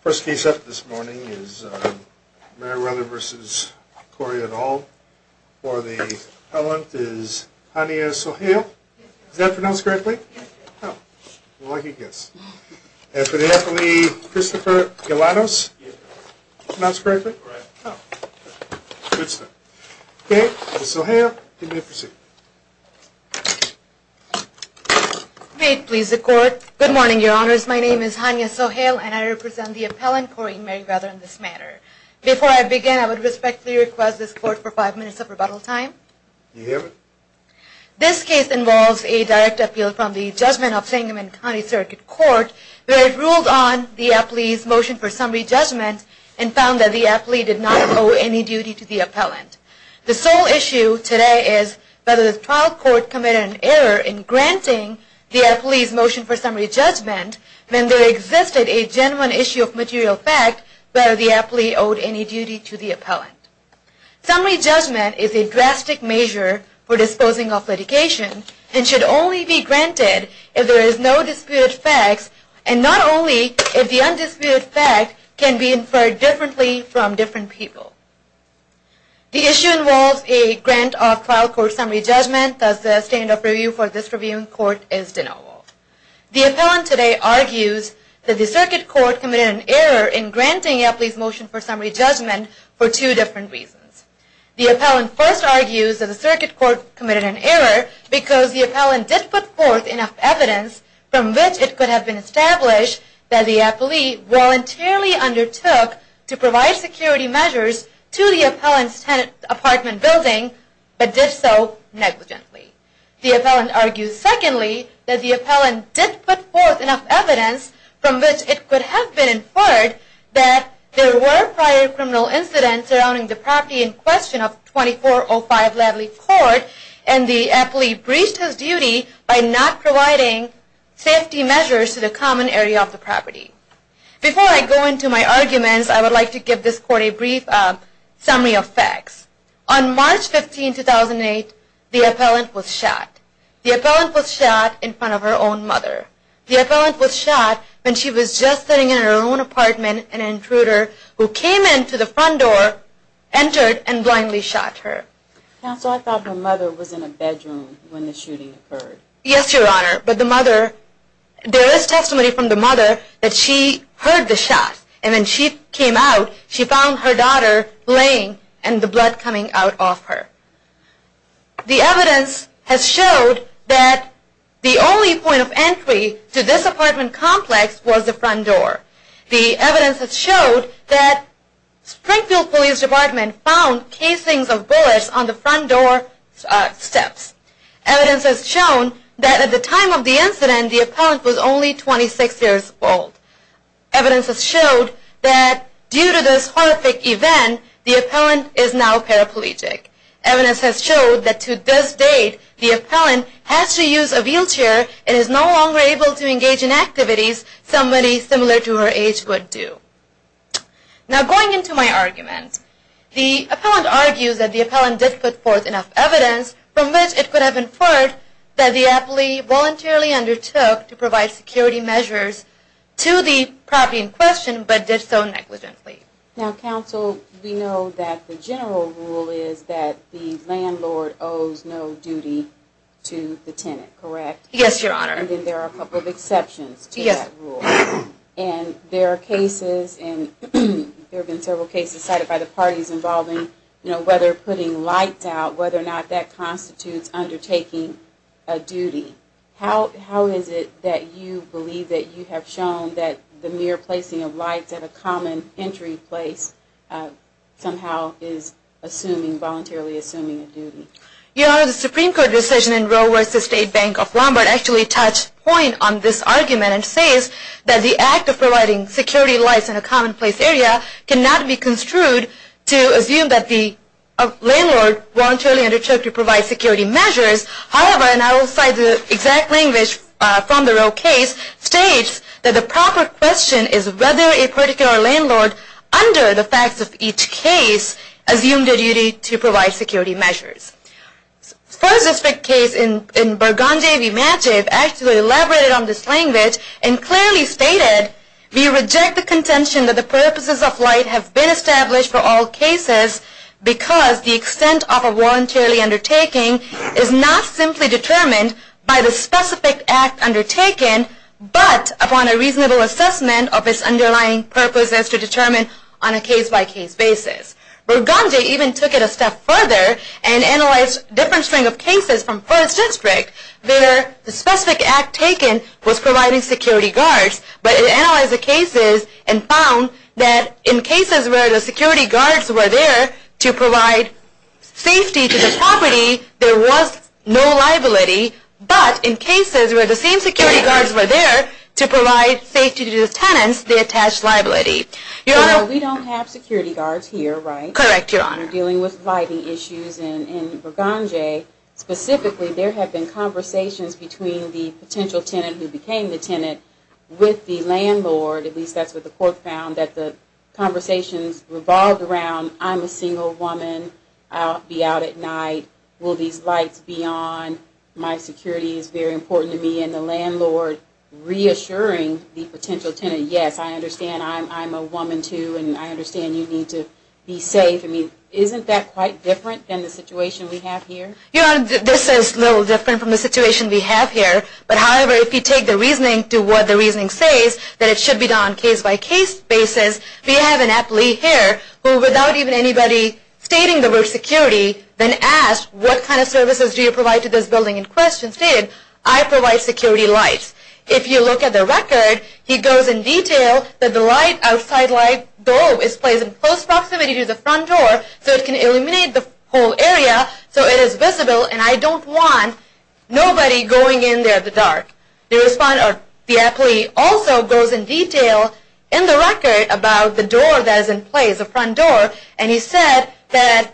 First case up this morning is Marriweather v. Corey et al. For the appellant is Hania Soheil. Is that pronounced correctly? Yes. Oh, lucky guess. And for the appellee, Christopher Galanos? Yes. Pronounced correctly? Correct. Oh, good stuff. Okay, Ms. Soheil, you may proceed. May it please the court. Good morning, your honors. My name is Hania Soheil, and I represent the appellant, Corey Marriweather, in this matter. Before I begin, I would respectfully request this court for five minutes of rebuttal time. You hear me? This case involves a direct appeal from the judgment of Sangamon County Circuit Court, where it ruled on the appellee's motion for summary judgment and found that the trial court committed an error in granting the appellee's motion for summary judgment when there existed a genuine issue of material fact where the appellee owed any duty to the appellant. Summary judgment is a drastic measure for disposing of litigation and should only be granted if there is no disputed facts and not only if the undisputed fact can be inferred differently from different people. The issue involves a grant of trial court summary judgment, thus the standard of review for this reviewing court is denial. The appellant today argues that the circuit court committed an error in granting the appellee's motion for summary judgment for two different reasons. The appellant first argues that the circuit court committed an error because the appellant did put forth enough evidence from which it could have been inferred that there were prior criminal incidents surrounding the property in question of 2405 Ladley Court and the appellee breached his duty by not providing safety measures to the common area of the property. Before I go into my arguments, I would like to give this court a brief summary judgment. Summary of facts. On March 15, 2008, the appellant was shot. The appellant was shot in front of her own mother. The appellant was shot when she was just sitting in her own apartment, an intruder who came into the front door, entered, and blindly shot her. Counsel, I thought her mother was in a bedroom when the shooting occurred. Yes, Your Honor. But the mother, there is testimony from the mother that she heard the shot. And when she came out, she found her daughter laying and the blood coming out of her. The evidence has showed that the only point of entry to this apartment complex was the front door. The evidence has showed that Springfield Police Department found casings of bullets on the front door steps. Evidence has shown that at the time of the incident, the appellant was only 26 years old. Evidence has showed that due to this horrific event, the appellant is now paraplegic. Evidence has showed that to this date, the appellant has to use a wheelchair and is no longer able to engage in activities somebody similar to her age would do. Now, going into my argument, the appellant argues that the appellant did put forth enough evidence from which it could have inferred that the appellee voluntarily undertook to provide security measures to the property in question, but did so negligently. Now, Counsel, we know that the general rule is that the landlord owes no duty to the tenant, correct? Yes, Your Honor. And then there are a couple of exceptions to that rule. Yes. And there are cases, and there have been several cases cited by the parties involving, you know, whether putting lights out, whether or not that constitutes undertaking a duty. How is it that you believe that you have shown that the mere placing of lights at a common entry place somehow is assuming, voluntarily assuming a duty? Your Honor, the Supreme Court decision in Roe v. State Bank of Lombard actually touched point on this argument and says that the act of providing security lights in a common place area cannot be construed to assume that the landlord voluntarily undertook to provide security measures. However, and I will cite the exact language from the Roe case, states that the proper question is whether a particular landlord, under the facts of each case, assumed a duty to provide security measures. As far as this case in Burgundy, we imagine, actually elaborated on this language and clearly stated, we reject the contention that the purposes of light have been established for all cases because the extent of a voluntarily undertaking is not simply determined by the specific act undertaken, but upon a reasonable assessment of its underlying purposes to determine on a case-by-case basis. Burgundy even took it a step further and analyzed a different string of cases from First District where the specific act taken was providing security guards, but it analyzed the cases and found that in cases where the security guards were there to provide safety to the property, there was no liability, but in cases where the same security guards were there to provide safety to the tenants, they attached liability. We don't have security guards here, right? Correct, Your Honor. We're dealing with lighting issues in Burgundy. Specifically, there have been conversations between the potential tenant who became the tenant with the landlord, at least that's what the court found, that the conversations revolved around, I'm a single woman, I'll be out at night, will these lights be on, my security is very important to me, and the landlord reassuring the potential tenant, yes, I understand, I'm a single woman. I'm a woman, too, and I understand you need to be safe. I mean, isn't that quite different than the situation we have here? Your Honor, this is a little different from the situation we have here, but however, if you take the reasoning to what the reasoning says, that it should be done on a case-by-case basis, we have an appellee here who, without even anybody stating the word security, then asked, what kind of services do you provide to this building, and the question stated, I provide security lights. If you look at the record, he goes in detail that the light, outside light, though, is placed in close proximity to the front door, so it can illuminate the whole area, so it is visible, and I don't want nobody going in there in the dark. The appellee also goes in detail in the record about the door that is in place, the front door, and he said that,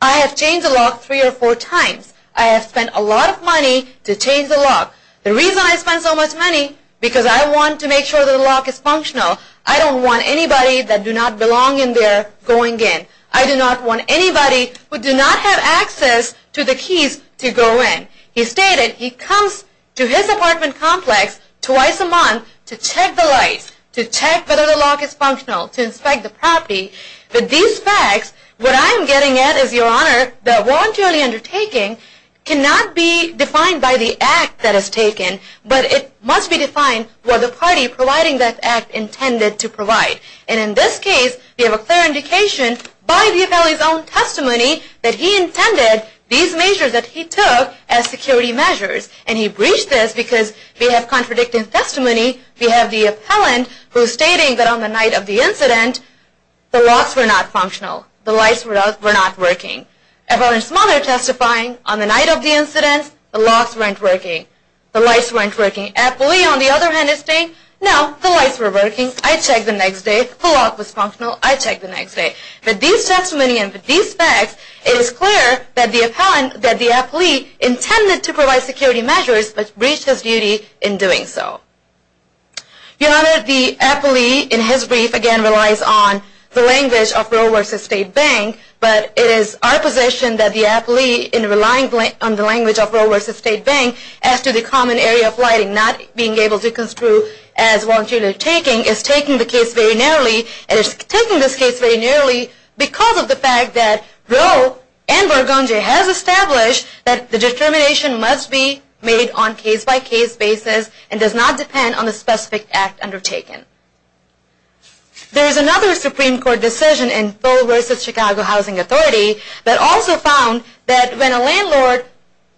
I have changed the lock three or four times. I have spent a lot of money to change the lock. The reason I spent so much money, because I want to make sure the lock is functional. I don't want anybody that do not belong in there going in. I do not want anybody who do not have access to the keys to go in. He stated, he comes to his apartment complex twice a month to check the lights, to check whether the lock is functional, to inspect the property. With these facts, what I am getting at is, Your Honor, that voluntarily undertaking cannot be defined by the act that is taken, but it must be defined by the party providing that act intended to provide. And in this case, we have a clear indication by the appellee's own testimony that he intended these measures that he took as security measures. And he breached this because we have contradicting testimony. We have the appellant who is stating that on the night of the incident, the locks were not functional. The lights were not working. The appellant's mother testifying, on the night of the incident, the locks weren't working. The lights weren't working. The appellant on the other hand is saying, no, the lights were working. I checked the next day. The lock was functional. I checked the next day. With these testimonies and with these facts, it is clear that the appellant, that the appellant intended to provide security measures, but breached his duty in doing so. Your Honor, the appellee in his brief again relies on the language of Roe v. State Bank, but it is our position that the appellee, in relying on the language of Roe v. State Bank, as to the common area of lighting not being able to construe as voluntarily taking, is taking the case very narrowly. It is taking this case very narrowly because of the fact that Roe and Borgonje has established that the determination must be made on a case-by-case basis and does not depend on the specific act undertaken. There is another Supreme Court decision in Full v. Chicago Housing Authority that also found that when a landlord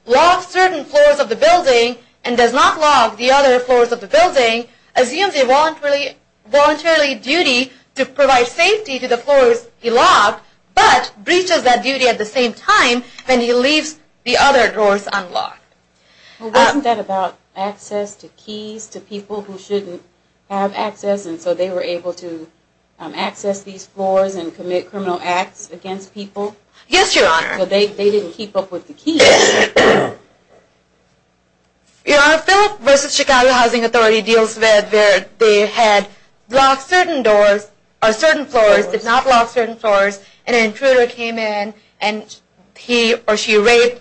locks certain floors of the building and does not lock the other floors of the building, assumes a voluntary duty to provide safety to the floors he locked, but breaches that duty at the same time when he leaves the other drawers unlocked. Wasn't that about access to keys to people who shouldn't have access and so they were able to access these floors and commit criminal acts against people? Yes, Your Honor. So they didn't keep up with the keys? Your Honor, Full v. Chicago Housing Authority deals with where they had locked certain floors, did not lock certain floors, and an intruder came in and he or she raped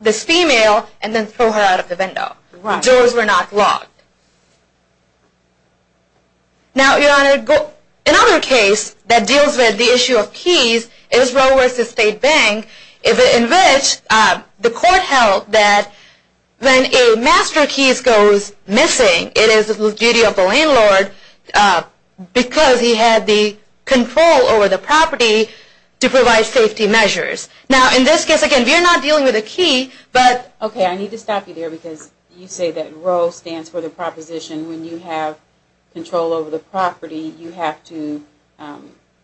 this female and then threw her out of the window. Right. Doors were not locked. Now, Your Honor, another case that deals with the issue of keys is Roe v. State Bank in which the court held that when a master key goes missing, it is the duty of the landlord because he had the control over the property to provide safety measures. Now, in this case, again, we are not dealing with a key, but… Okay, I need to stop you there because you say that Roe stands for the proposition when you have control over the property, you have to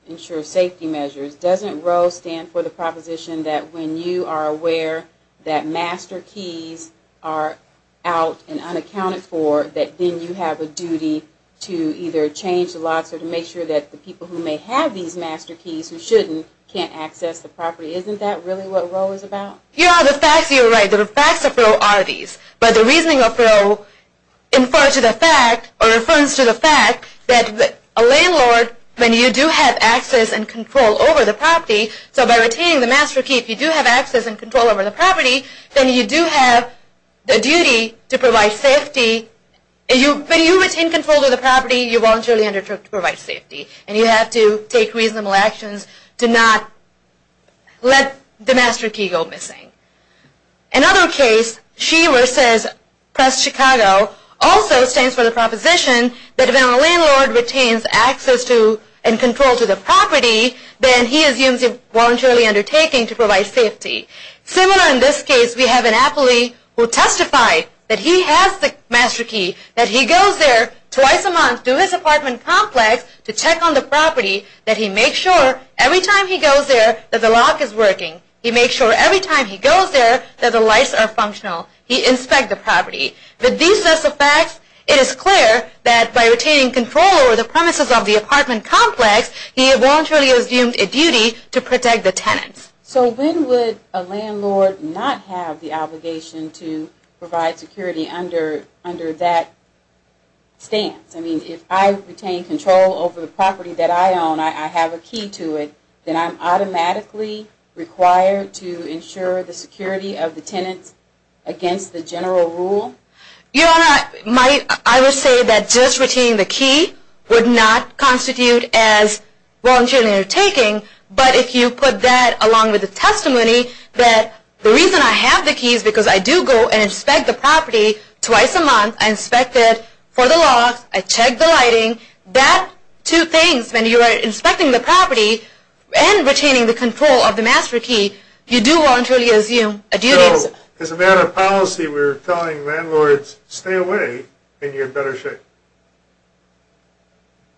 ensure safety measures. Doesn't Roe stand for the proposition that when you are aware that master keys are out and unaccounted for, that then you have a duty to either change the locks or to make sure that the people who may have these master keys who shouldn't can't access the property? Isn't that really what Roe is about? Your Honor, the facts you are right, the facts of Roe are these. But the reasoning of Roe refers to the fact that a landlord, when you do have access and control over the property, so by retaining the master key, if you do have access and control over the property, then you do have the duty to provide safety. When you retain control over the property, you voluntarily undertake to provide safety. And you have to take reasonable actions to not let the master key go missing. Another case, Shea versus Chicago, also stands for the proposition that when a landlord retains access to and control to the property, then he assumes a voluntary undertaking to provide safety. Similar in this case, we have an appellee who testified that he has the master key, that he goes there twice a month to his apartment complex to check on the property, that he makes sure every time he goes there that the lock is working. He makes sure every time he goes there that the lights are functional. He inspects the property. With these sets of facts, it is clear that by retaining control over the premises of the apartment complex, he has voluntarily assumed a duty to protect the tenants. So when would a landlord not have the obligation to provide security under that stance? I mean, if I retain control over the property that I own, I have a key to it, then I'm automatically required to ensure the security of the tenants against the general rule? Your Honor, I would say that just retaining the key would not constitute as voluntary undertaking, but if you put that along with the testimony that the reason I have the key is because I do go and inspect the property twice a month. I inspect it for the locks. I check the lighting. That two things, when you are inspecting the property and retaining the control of the master key, you do voluntarily assume a duty. So, as a matter of policy, we're telling landlords, stay away and you're in better shape?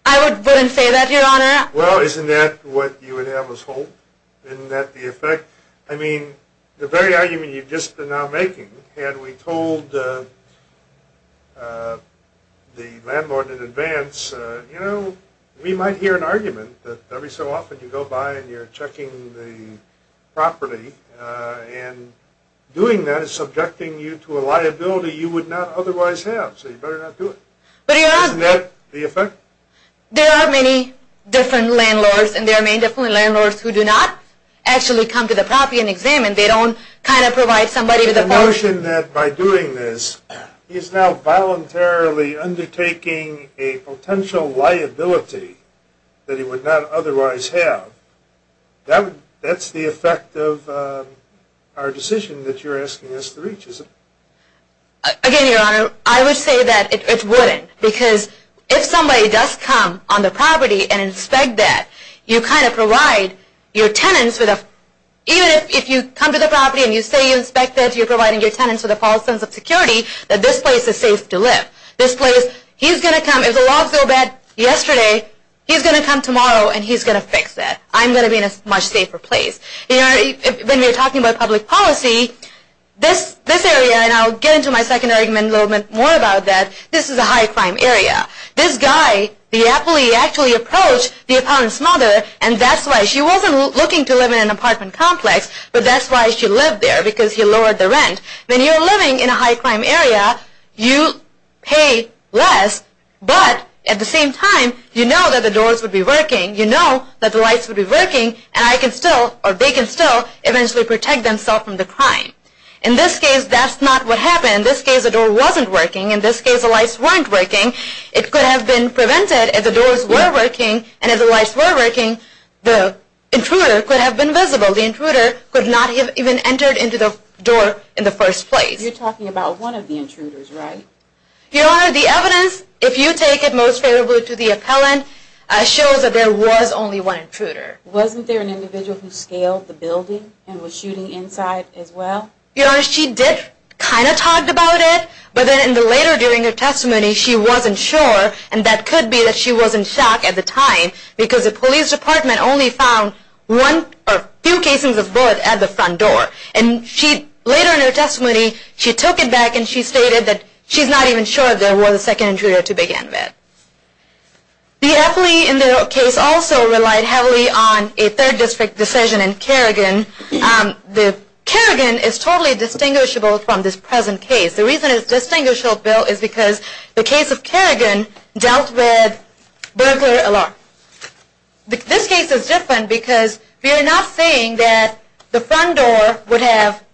I wouldn't say that, Your Honor. Well, isn't that what you would have as hope? Isn't that the effect? I mean, the very argument you've just been now making, had we told the landlord in advance, you know, we might hear an argument that every so often you go by and you're checking the property and doing that is subjecting you to a liability you would not otherwise have. So you better not do it. But, Your Honor. Isn't that the effect? There are many different landlords, and there are many different landlords who do not actually come to the property and examine. They don't kind of provide somebody with a portion. The notion that by doing this, he's now voluntarily undertaking a potential liability that he would not otherwise have, that's the effect of our decision that you're asking us to reach, is it? Again, Your Honor, I would say that it wouldn't, because if somebody does come on the property and inspect that, you kind of provide your tenants with a, even if you come to the property and you say you inspect it, you're providing your tenants with a false sense of security, that this place is safe to live. This place, he's going to come, if the logs go bad yesterday, he's going to come tomorrow and he's going to fix that. I'm going to be in a much safer place. When we're talking about public policy, this area, and I'll get into my second argument a little bit more about that, this is a high-crime area. This guy, the appellee, actually approached the appellant's mother, and that's why she wasn't looking to live in an apartment complex, but that's why she lived there, because he lowered the rent. When you're living in a high-crime area, you pay less, but at the same time, you know that the doors would be working, you know that the lights would be working, and I can still, or they can still, eventually protect themselves from the crime. In this case, that's not what happened. In this case, the door wasn't working. In this case, the lights weren't working. It could have been prevented if the doors were working, and if the lights were working, the intruder could have been visible. The intruder could not have even entered into the door in the first place. You're talking about one of the intruders, right? Your Honor, the evidence, if you take it most favorably to the appellant, shows that there was only one intruder. Wasn't there an individual who scaled the building and was shooting inside as well? Your Honor, she did kind of talk about it, but then later during her testimony, she wasn't sure, and that could be that she wasn't shocked at the time, because the police department only found a few cases of bullets at the front door. And later in her testimony, she took it back and she stated that she's not even sure if there was a second intruder to begin with. The appellee in the case also relied heavily on a third district decision in Kerrigan. Kerrigan is totally distinguishable from this present case. The reason it's distinguishable, Bill, is because the case of Kerrigan dealt with burglar alarm. This case is different because we are not saying that the front door would have...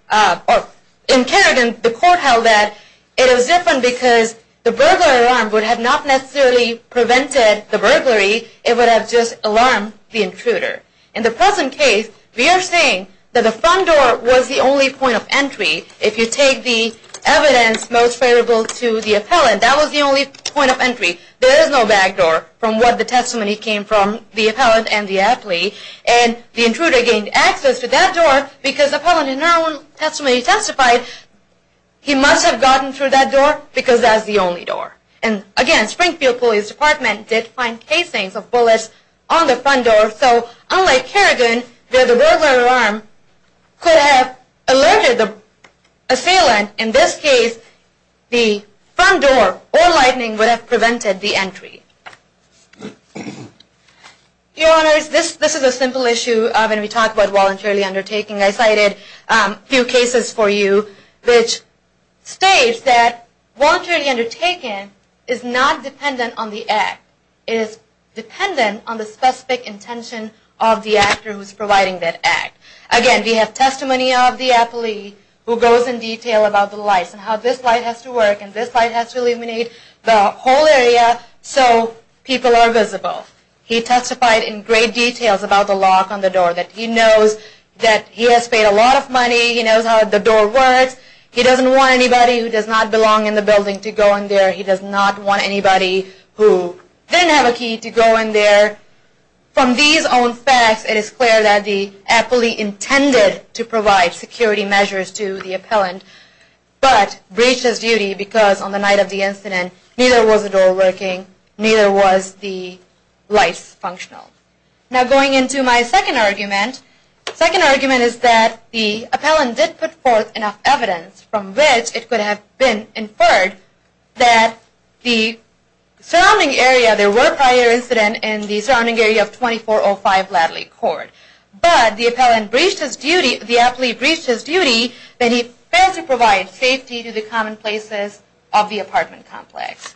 In Kerrigan, the court held that it was different because the burglar alarm would have not necessarily prevented the burglary. It would have just alarmed the intruder. In the present case, we are saying that the front door was the only point of entry. If you take the evidence most favorable to the appellant, that was the only point of entry. There is no back door from what the testimony came from, the appellant and the appellee. And the intruder gained access to that door because the appellant in her own testimony testified he must have gotten through that door because that's the only door. And again, Springfield Police Department did find casings of bullets on the front door. So unlike Kerrigan, where the burglar alarm could have alerted the assailant, in this case, the front door or lightning would have prevented the entry. Your Honors, this is a simple issue when we talk about voluntarily undertaking. I cited a few cases for you which states that voluntarily undertaking is not dependent on the act. It is dependent on the specific intention of the actor who is providing that act. Again, we have testimony of the appellee who goes in detail about the lights and how this light has to work and this light has to illuminate the whole area so people are visible. He testified in great detail about the lock on the door. He knows that he has paid a lot of money. He knows how the door works. He doesn't want anybody who does not belong in the building to go in there. He does not want anybody who didn't have a key to go in there. From these own facts, it is clear that the appellee intended to provide security measures to the appellant but breached his duty because on the night of the incident, neither was the door working, neither was the lights functional. Now going into my second argument. The second argument is that the appellant did put forth enough evidence from which it could have been inferred that the surrounding area, there were prior incidents in the surrounding area of 2405 Ladley Court, but the appellant breached his duty, the appellee breached his duty, that he failed to provide safety to the commonplaces of the apartment complex.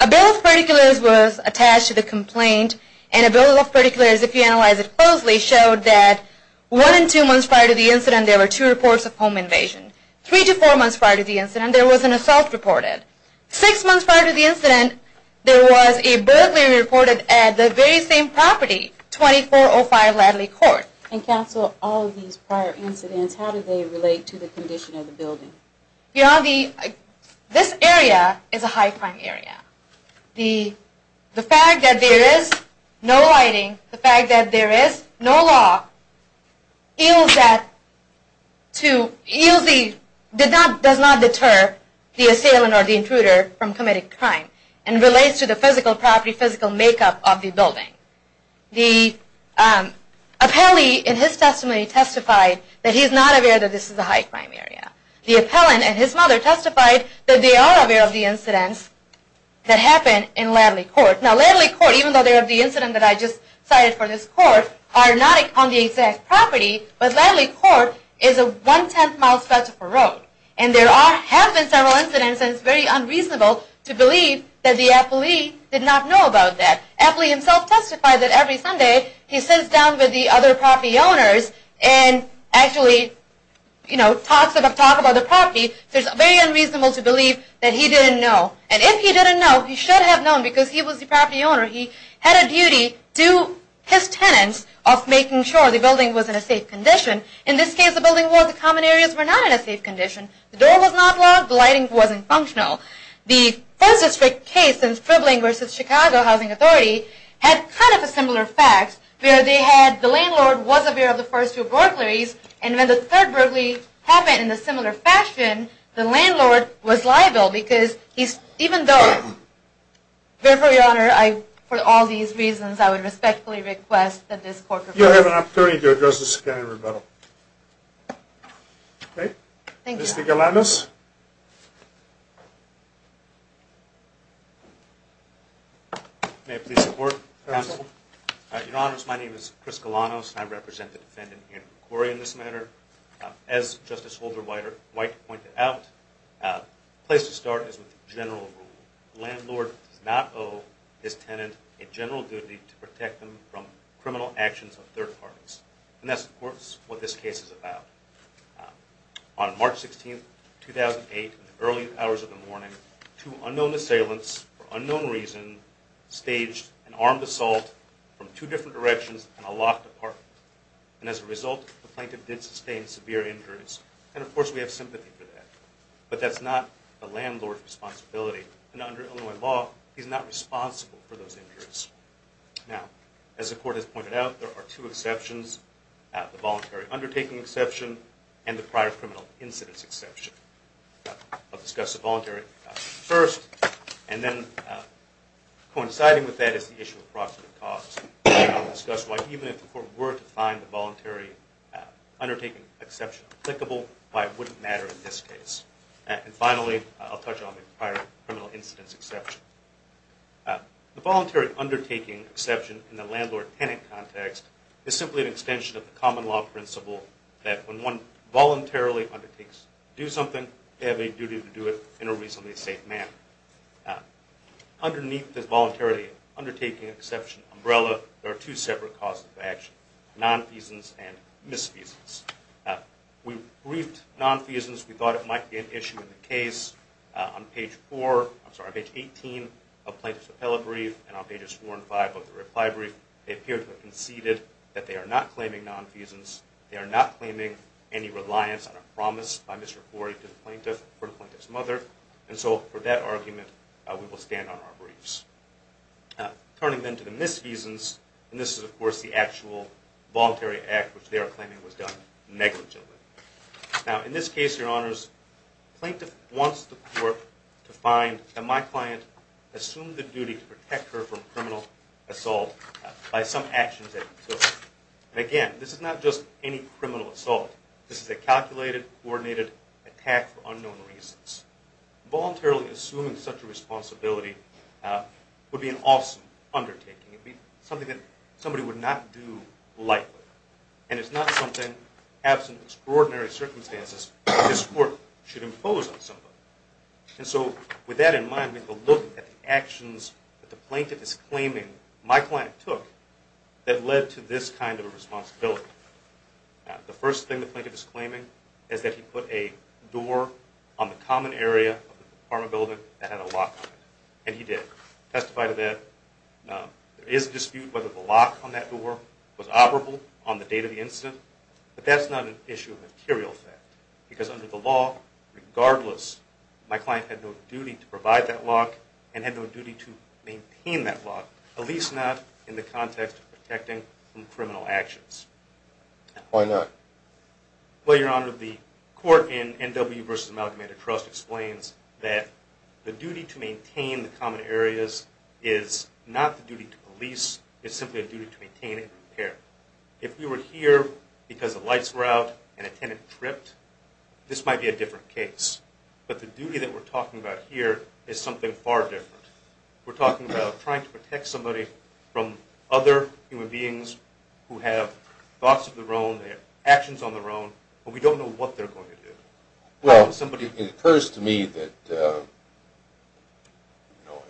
A bill of particulars was attached to the complaint and a bill of particulars, if you analyze it closely, showed that one and two months prior to the incident, there were two reports of home invasion. Three to four months prior to the incident, there was an assault reported. Six months prior to the incident, there was a burglary reported at the very same property, 2405 Ladley Court. And counsel, all of these prior incidents, how do they relate to the condition of the building? This area is a high-crime area. The fact that there is no lighting, the fact that there is no law, does not deter the assailant or the intruder from committing crime and relates to the physical property, physical makeup of the building. The appellee in his testimony testified that he is not aware that this is a high-crime area. The appellant and his mother testified that they are aware of the incidents that happened in Ladley Court. Now, Ladley Court, even though they're of the incident that I just cited for this court, are not on the exact property, but Ladley Court is a one-tenth mile stretch of road. And there have been several incidents, and it's very unreasonable to believe that the appellee did not know about that. Appellee himself testified that every Sunday he sits down with the other property owners and actually, you know, talks about the property. It's very unreasonable to believe that he didn't know. And if he didn't know, he should have known because he was the property owner. He had a duty to his tenants of making sure the building was in a safe condition. In this case, the building was. The common areas were not in a safe condition. The door was not locked. The lighting wasn't functional. The first district case in Tripling v. Chicago Housing Authority had kind of a similar fact, where they had the landlord was aware of the first two burglaries, and when the third burglary happened in a similar fashion, the landlord was liable because he's, even though. Therefore, Your Honor, I, for all these reasons, I would respectfully request that this court. You have an opportunity to address this again in rebuttal. Okay. Thank you. Mr. Galanos. May I please report? Your Honor, my name is Chris Galanos, and I represent the defendant, Ian McCrory, in this matter. As Justice Holder White pointed out, the place to start is with general rule. The landlord does not owe his tenant a general duty to protect them from criminal actions of third parties. And that's, of course, what this case is about. On March 16, 2008, in the early hours of the morning, two unknown assailants, for unknown reason, staged an armed assault from two different directions in a locked apartment. And as a result, the plaintiff did sustain severe injuries. And, of course, we have sympathy for that. But that's not the landlord's responsibility. And under Illinois law, he's not responsible for those injuries. Now, as the court has pointed out, there are two exceptions. The voluntary undertaking exception and the prior criminal incidence exception. I'll discuss the voluntary exception first. And then coinciding with that is the issue of proximate cause. And I'll discuss why even if the court were to find the voluntary undertaking exception applicable, why it wouldn't matter in this case. And finally, I'll touch on the prior criminal incidence exception. The voluntary undertaking exception in the landlord-tenant context is simply an extension of the common law principle that when one voluntarily undertakes to do something, they have a duty to do it in a reasonably safe manner. Underneath the voluntary undertaking exception umbrella, there are two separate causes of action, nonfeasance and misfeasance. We briefed nonfeasance. We thought it might be an issue in the case. On page 18 of the plaintiff's appellate brief and on pages 4 and 5 of the reply brief, they appear to have conceded that they are not claiming nonfeasance. They are not claiming any reliance on a promise by Mr. Corey to the plaintiff or the plaintiff's mother. And so for that argument, we will stand on our briefs. Turning then to the misfeasance, and this is, of course, the actual voluntary act, which they are claiming was done negligently. Now, in this case, your honors, plaintiff wants the court to find that my client assumed the duty to protect her from criminal assault by some actions that he took. And again, this is not just any criminal assault. This is a calculated, coordinated attack for unknown reasons. Voluntarily assuming such a responsibility would be an awesome undertaking. It would be something that somebody would not do lightly. And it's not something, absent of extraordinary circumstances, that this court should impose on somebody. And so with that in mind, we can look at the actions that the plaintiff is claiming my client took that led to this kind of a responsibility. The first thing the plaintiff is claiming is that he put a door on the common area of the apartment building that had a lock on it, and he did. Testify to that. There is a dispute whether the lock on that door was operable on the date of the incident, but that's not an issue of material fact, because under the law, regardless, my client had no duty to provide that lock and had no duty to maintain that lock, at least not in the context of protecting from criminal actions. Why not? Well, your honor, the court in N.W. v. Amalgamated Trust explains that the duty to maintain the common areas is not the duty to police, it's simply a duty to maintain and repair. If we were here because the lights were out and a tenant tripped, this might be a different case. But the duty that we're talking about here is something far different. We're talking about trying to protect somebody from other human beings who have thoughts of their own, they have actions on their own, but we don't know what they're going to do. Well, it occurs to me that, you know,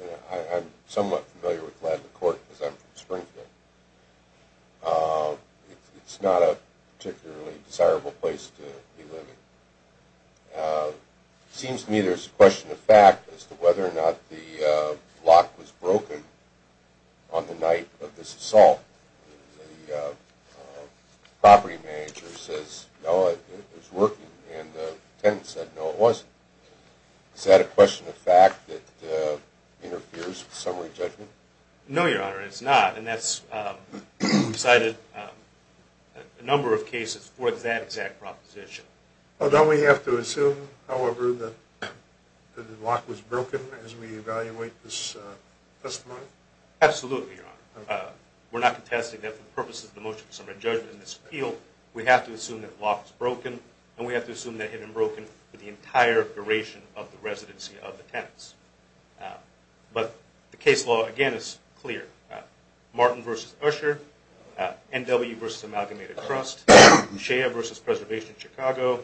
I'm somewhat familiar with Gladden Court because I'm from Springfield. It's not a particularly desirable place to be living. It seems to me there's a question of fact as to whether or not the lock was broken on the night of this assault. The property manager says, no, it was working, and the tenant said, no, it wasn't. Is that a question of fact that interferes with summary judgment? No, your honor, it's not, and that's cited a number of cases for that exact proposition. Well, don't we have to assume, however, that the lock was broken as we evaluate this testimony? Absolutely, your honor. We're not contesting that for the purposes of the motion for summary judgment in this field. We have to assume that the lock was broken, and we have to assume that it had been broken for the entire duration of the residency of the tenants. But the case law, again, is clear. Martin v. Usher, N.W. v. Amalgamated Trust, Shea v. Preservation of Chicago,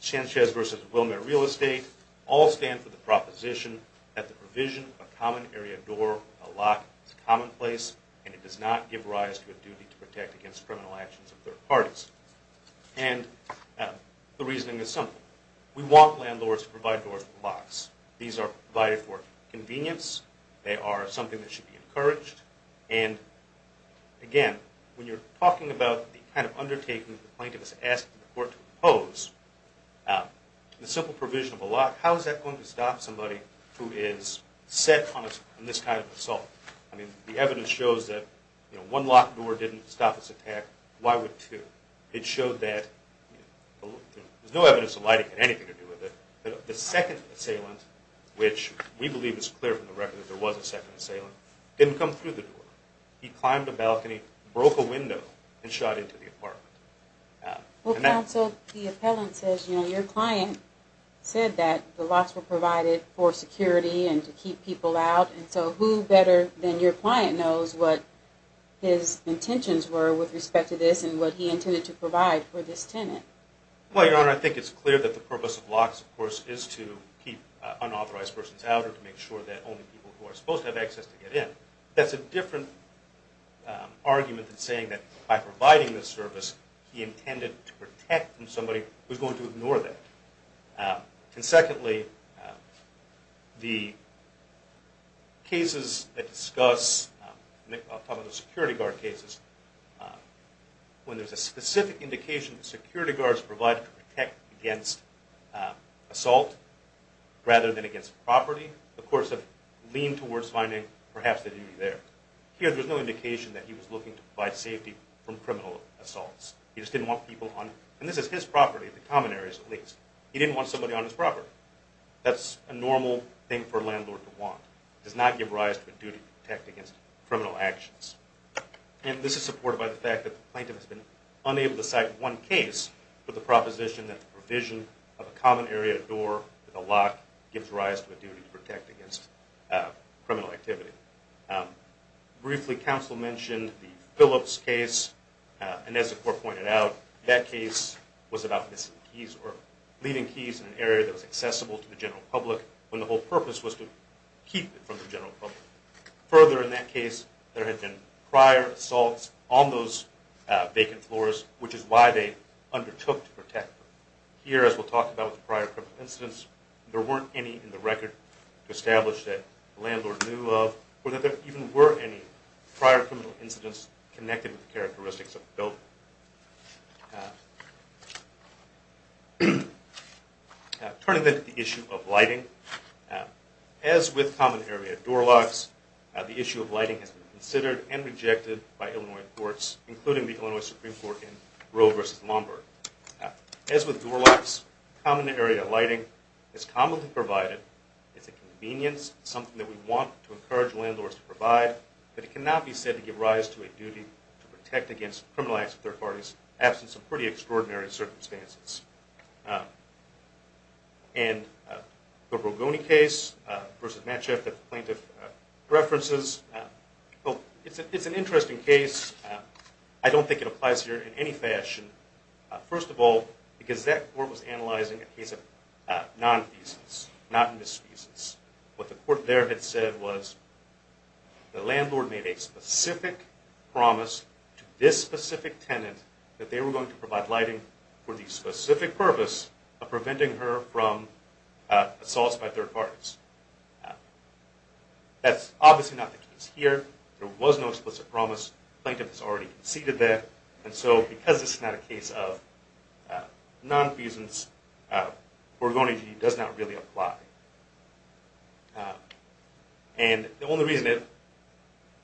Sanchez v. Wilmer Real Estate, all stand for the proposition that the provision of a common area door or a lock is commonplace and it does not give rise to a duty to protect against criminal actions of third parties. And the reasoning is simple. We want landlords to provide doors with locks. These are provided for convenience. They are something that should be encouraged. And, again, when you're talking about the kind of undertaking the plaintiff is asking the court to impose, the simple provision of a lock, how is that going to stop somebody who is set on this kind of assault? I mean, the evidence shows that one locked door didn't stop this attack. Why would two? It showed that there's no evidence of lighting or anything to do with it. The second assailant, which we believe is clear from the record that there was a second assailant, didn't come through the door. He climbed a balcony, broke a window, and shot into the apartment. Well, counsel, the appellant says, you know, your client said that the locks were provided for security and to keep people out. And so who better than your client knows what his intentions were with respect to this and what he intended to provide for this tenant? Well, Your Honor, I think it's clear that the purpose of locks, of course, is to keep unauthorized persons out or to make sure that only people who are supposed to have access to get in. That's a different argument than saying that by providing this service, he intended to protect from somebody who's going to ignore that. And secondly, the cases that discuss, I'll talk about the security guard cases, when there's a specific indication that security guards are provided to protect against assault rather than against property, of course, they tend to lean towards finding perhaps the duty there. Here, there's no indication that he was looking to provide safety from criminal assaults. He just didn't want people on. And this is his property, the common areas at least. He didn't want somebody on his property. That's a normal thing for a landlord to want. It does not give rise to a duty to protect against criminal actions. And this is supported by the fact that the plaintiff has been unable to cite one case with the proposition that the provision of a common area door with a lock gives rise to a duty to protect against criminal activity. Briefly, counsel mentioned the Phillips case. And as the court pointed out, that case was about missing keys or leaving keys in an area that was accessible to the general public when the whole purpose was to keep it from the general public. Further, in that case, there had been prior assaults on those vacant floors, which is why they undertook to protect them. Here, as we'll talk about with prior criminal incidents, there weren't any in the record to establish that the landlord knew of or that there even were any prior criminal incidents connected with the characteristics of the building. Turning then to the issue of lighting, as with common area door locks, the issue of lighting has been considered and rejected by Illinois courts, including the Illinois Supreme Court in Roe v. Lombard. As with door locks, common area lighting is commonly provided. It's a convenience, something that we want to encourage landlords to provide, but it cannot be said to give rise to a duty to protect against criminal acts of third parties absent some pretty extraordinary circumstances. And the Rogoni case versus Matcheff that the plaintiff references, it's an interesting case. I don't think it applies here in any fashion. First of all, because that court was analyzing a case of non-thesis, not misthesis. What the court there had said was the landlord made a specific promise to this specific tenant that they were going to provide lighting for the specific purpose of preventing her from assaults by third parties. That's obviously not the case here. There was no explicit promise. The plaintiff has already conceded that. And so because this is not a case of non-thesis, Rogoni does not really apply. And the only reason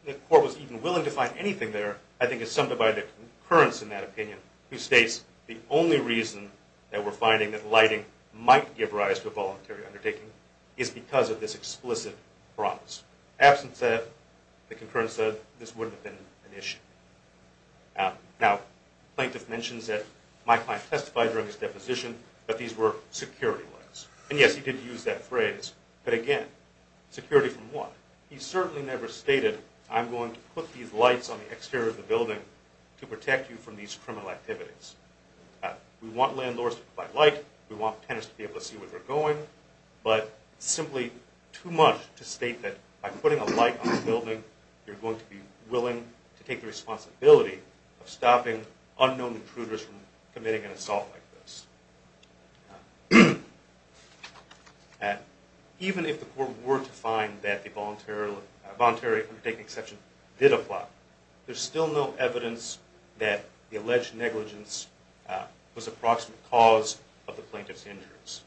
the court was even willing to find anything there, I think is summed up by the concurrence in that opinion, which states the only reason that we're finding that lighting might give rise to a voluntary undertaking is because of this explicit promise. Absent that, the concurrence said, this wouldn't have been an issue. Now, the plaintiff mentions that my client testified during his deposition that these were security lights. And yes, he did use that phrase, but again, security from what? He certainly never stated, I'm going to put these lights on the exterior of the building to protect you from these criminal activities. We want landlords to provide light. We want tenants to be able to see where they're going. But it's simply too much to state that by putting a light on the building, you're going to be willing to take the responsibility of stopping unknown intruders from committing an assault like this. Even if the court were to find that the voluntary undertaking exception did apply, there's still no evidence that the alleged negligence was the approximate cause of the plaintiff's injuries.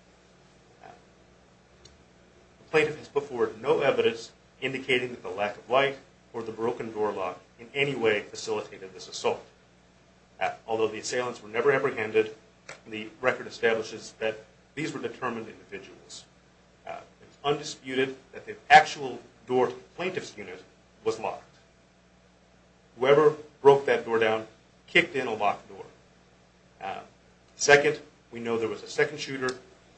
The plaintiff has put forward no evidence indicating that the lack of light or the broken door lock in any way facilitated this assault. Although the assailants were never apprehended, the record establishes that these were determined individuals. It's undisputed that the actual door to the plaintiff's unit was locked. Whoever broke that door down kicked in a locked door. Second, we know there was a second shooter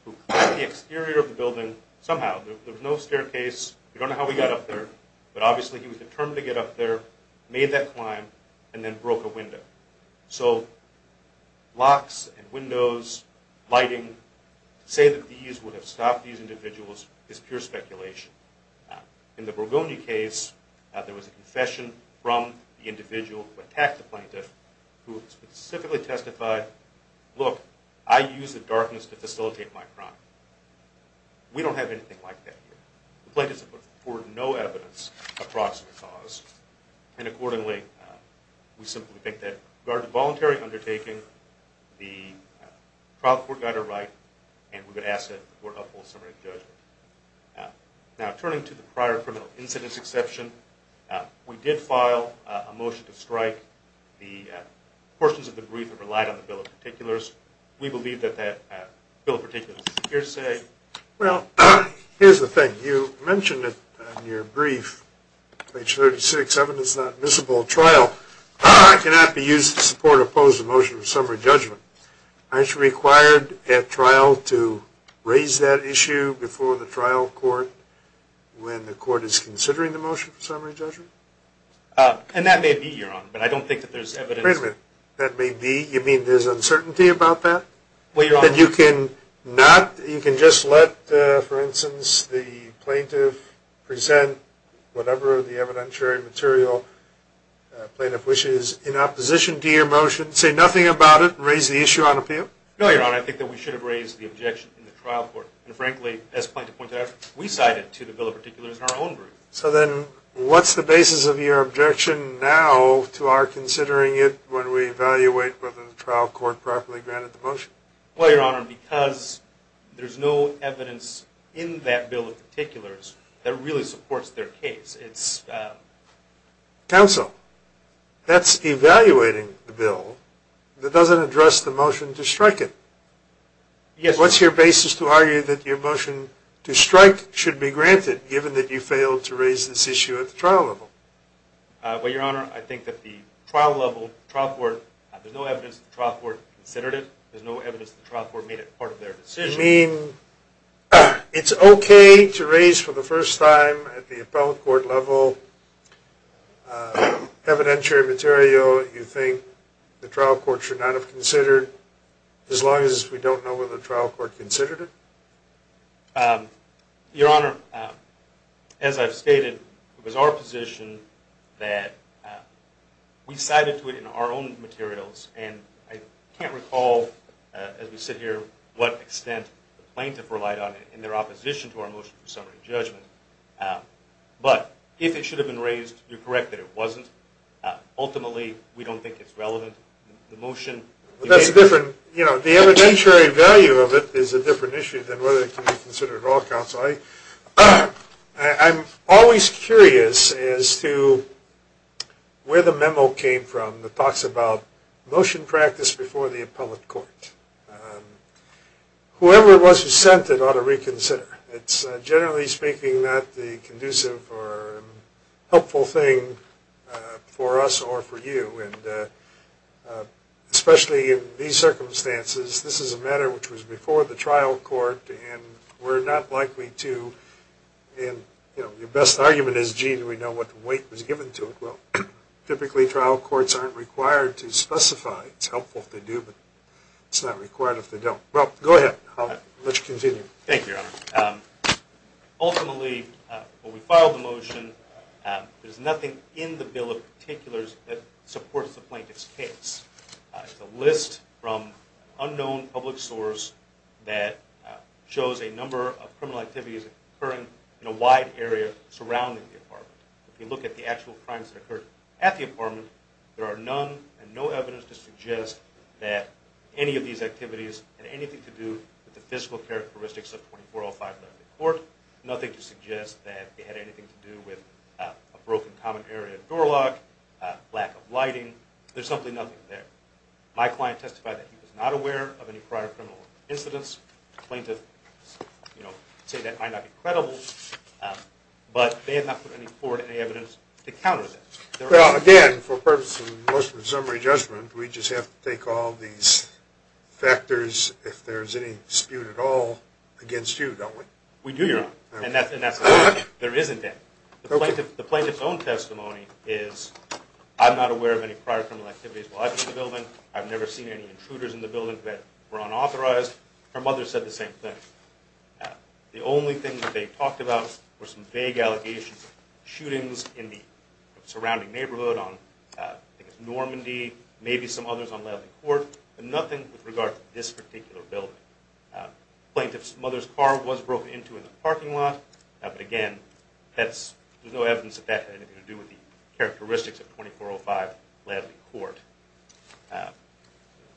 who climbed the exterior of the building somehow. There was no staircase. We don't know how he got up there. But obviously, he was determined to get up there, made that climb, and then broke a window. So locks and windows, lighting, to say that these would have stopped these individuals is pure speculation. In the Borgogna case, there was a confession from the individual who attacked the plaintiff who specifically testified, look, I use the darkness to facilitate my crime. We don't have anything like that here. The plaintiffs have put forward no evidence of the approximate cause. And accordingly, we simply think that there was a voluntary undertaking. The trial court got it right, and we would ask that the court uphold the summary of judgment. Now, turning to the prior criminal incidents exception, we did file a motion to strike. The portions of the brief relied on the bill of particulars. We believe that that bill of particulars is here to stay. Well, here's the thing. You mentioned it in your brief, page 36, evidence not miscible trial. I cannot be used to support or oppose the motion of summary judgment. Aren't you required at trial to raise that issue before the trial court when the court is considering the motion of summary judgment? And that may be, Your Honor, but I don't think that there's evidence. Wait a minute. That may be? You mean there's uncertainty about that? Well, Your Honor. Then you can just let, for instance, the plaintiff present whatever the evidentiary material plaintiff wishes in opposition to your motion, say nothing about it, and raise the issue on appeal? No, Your Honor. I think that we should have raised the objection in the trial court. And frankly, as plaintiff pointed out, we cited it to the bill of particulars in our own brief. So then what's the basis of your objection now to our considering it Well, Your Honor, because there's no evidence in that bill of particulars that really supports their case. Counsel, that's evaluating the bill that doesn't address the motion to strike it. What's your basis to argue that your motion to strike should be granted given that you failed to raise this issue at the trial level? Well, Your Honor, I think that the trial court, there's no evidence that the trial court considered it. There's no evidence that the trial court made it part of their decision. You mean it's okay to raise for the first time at the appellate court level evidentiary material you think the trial court should not have considered as long as we don't know whether the trial court considered it? Your Honor, as I've stated, it was our position that we cited to it in our own materials. And I can't recall, as we sit here, what extent the plaintiff relied on it in their opposition to our motion for summary judgment. But if it should have been raised, you're correct that it wasn't. Ultimately, we don't think it's relevant. The motion That's a different, you know, the evidentiary value of it is a different issue than whether it can be considered at all, Counsel. I'm always curious as to where the memo came from that talks about motion practice before the appellate court. Whoever it was who sent it ought to reconsider. It's generally speaking not the conducive or helpful thing for us or for you. And especially in these circumstances, this is a matter which was before the trial court. And we're not likely to, you know, your best argument is, Gene, we know what the weight was given to it. Well, typically trial courts aren't required to specify. It's helpful if they do, but it's not required if they don't. Well, go ahead. Thank you, Your Honor. Ultimately, when we filed the motion, there's nothing in the bill of particulars that supports the plaintiff's case. It's a list from an unknown public source that shows a number of criminal activities occurring in a wide area surrounding the apartment. If you look at the actual crimes that occurred at the apartment, there are none and no evidence to suggest that any of these activities had anything to do with the physical characteristics of 24-05-11 in court, nothing to suggest that they had anything to do with a broken common area door lock, lack of lighting. There's simply nothing there. My client testified that he was not aware of any prior criminal incidents. The plaintiff, you know, said that might not be credible, but they have not put any forward any evidence to counter that. Well, again, for purposes of motion of summary judgment, we just have to take all these factors, if there's any dispute at all, against you, don't we? We do, Your Honor. And that's a fact. There isn't any. The plaintiff's own testimony is, I'm not aware of any prior criminal activities while I've been in the building. I've never seen any intruders in the building that were unauthorized. Her mother said the same thing. The only thing that they talked about were some vague allegations of shootings in the surrounding neighborhood on, I think it's Normandy, maybe some others on Ladley Court, but nothing with regard to this particular building. The plaintiff's mother's car was broken into in the parking lot, but, again, there's no evidence that that had anything to do with the characteristics of 24-05 Ladley Court.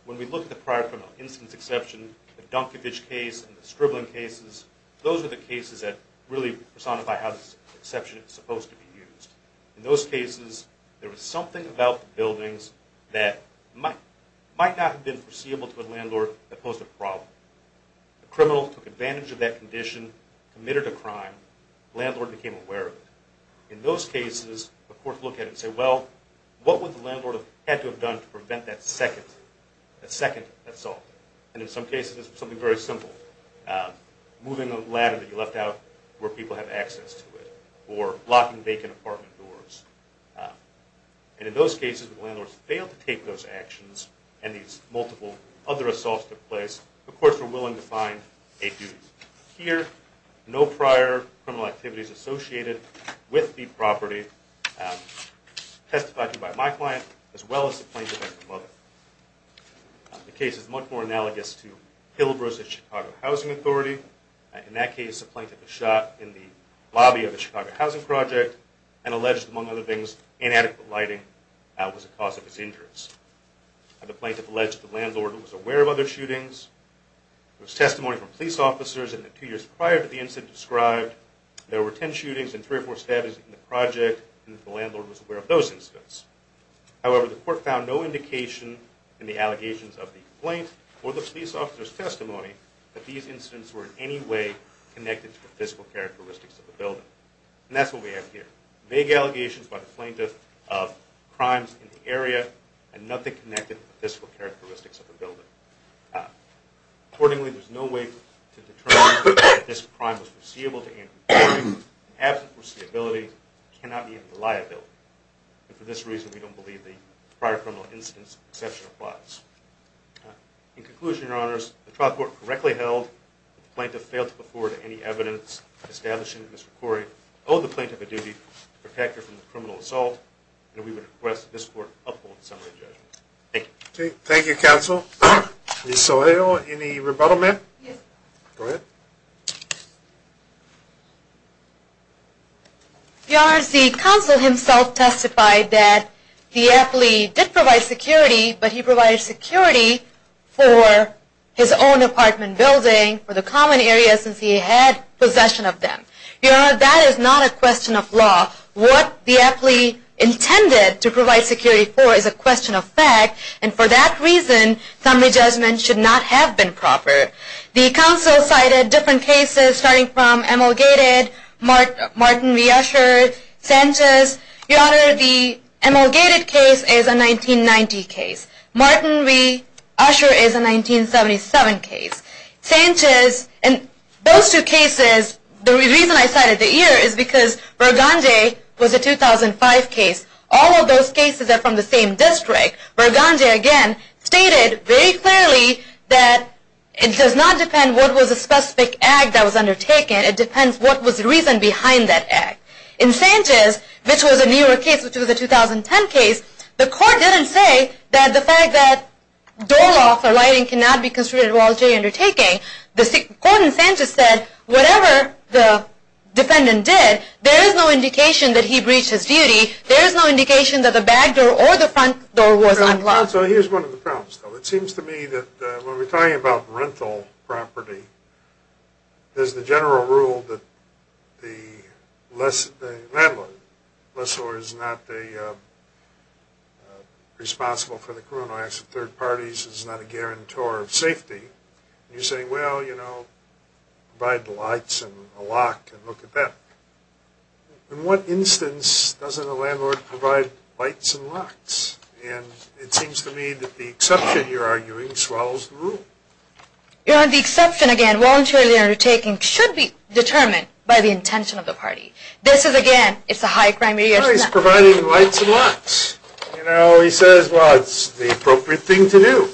When we look at the prior criminal incidents exception, the Dunkevich case and the Stribling cases, those are the cases that really personify how this exception is supposed to be used. In those cases, there was something about the buildings that might not have been foreseeable to a landlord that posed a problem. The criminal took advantage of that condition, committed a crime, the landlord became aware of it. In those cases, of course, look at it and say, well, what would the landlord have had to have done to prevent that second assault? In some cases, it's something very simple. Moving a ladder that you left out where people have access to it or locking vacant apartment doors. In those cases, the landlord failed to take those actions, and these multiple other assaults took place. Of course, we're willing to find a duty. Here, no prior criminal activities associated with the property testified to by my client as well as the plaintiff and her mother. The case is much more analogous to Hill versus Chicago Housing Authority. In that case, the plaintiff was shot in the lobby of the Chicago Housing Project and alleged, among other things, inadequate lighting was a cause of his injuries. The plaintiff alleged the landlord was aware of other shootings. There was testimony from police officers in the two years prior to the incident described. There were 10 shootings and three or four stabbings in the project, and the landlord was aware of those incidents. However, the court found no indication in the allegations of the complaint or the police officer's testimony that these incidents were in any way connected to the physical characteristics of the building. And that's what we have here. Vague allegations by the plaintiff of crimes in the area and nothing connected to the physical characteristics of the building. Accordingly, there's no way to determine that this crime was foreseeable to Andrew Corey. In absence of foreseeability, it cannot be a liability. And for this reason, we don't believe the prior criminal incident's exception applies. In conclusion, Your Honors, the trial court correctly held that the plaintiff failed to afford any evidence establishing that Mr. Corey owed the plaintiff a duty. Protect her from the criminal assault. And we would request that this court uphold the summary judgment. Thank you. Thank you, Counsel. Ms. Saleo, any rebuttal, ma'am? Yes. Go ahead. Your Honors, the counsel himself testified that the affilee did provide security, but he provided security for his own apartment building, for the common area, since he had possession of them. Your Honor, that is not a question of law. What the affilee intended to provide security for is a question of fact. And for that reason, summary judgment should not have been proper. The counsel cited different cases, starting from ML Gated, Martin v. Usher, Sanchez. Your Honor, the ML Gated case is a 1990 case. Martin v. Usher is a 1977 case. Sanchez, and those two cases, the reason I cited the year is because Berganje was a 2005 case. All of those cases are from the same district. Berganje, again, stated very clearly that it does not depend what was the specific act that was undertaken. It depends what was the reason behind that act. In Sanchez, which was a newer case, which was a 2010 case, the court didn't say that the fact that door lock or lighting cannot be considered a voluntary undertaking. The court in Sanchez said, whatever the defendant did, there is no indication that he breached his duty. There is no indication that the back door or the front door was unlocked. So here's one of the problems, though. It seems to me that when we're talking about rental property, there's the general rule that the landlord, lessor, is not responsible for the criminal acts of third parties, is not a guarantor of safety. You say, well, you know, provide the lights and a lock and look at that. In what instance doesn't a landlord provide lights and locks? And it seems to me that the exception, you're arguing, swallows the rule. Your Honor, the exception, again, voluntary undertaking, should be determined by the intention of the party. This is, again, it's a high crime area. Well, he's providing lights and locks. You know, he says, well, it's the appropriate thing to do.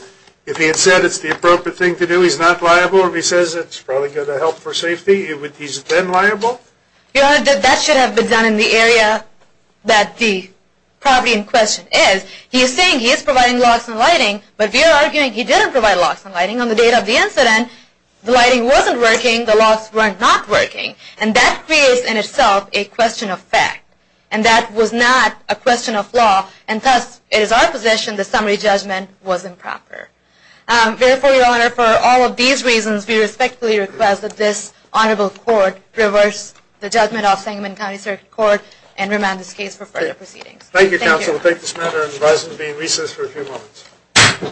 If he had said it's the appropriate thing to do, he's not liable. If he says it's probably going to help for safety, he's then liable. Your Honor, that should have been done in the area that the property in question is. He's saying he's providing locks and lighting, but we are arguing he didn't provide locks and lighting on the date of the incident. The lighting wasn't working. The locks were not working. And that creates in itself a question of fact. And that was not a question of law. And thus, it is our position the summary judgment wasn't proper. Therefore, Your Honor, for all of these reasons, we respectfully request that this honorable court reverse the judgment of Sangamon County Circuit Court and remand this case for further proceedings. Thank you, Counsel. We'll take this matter and advise it to be in recess for a few moments.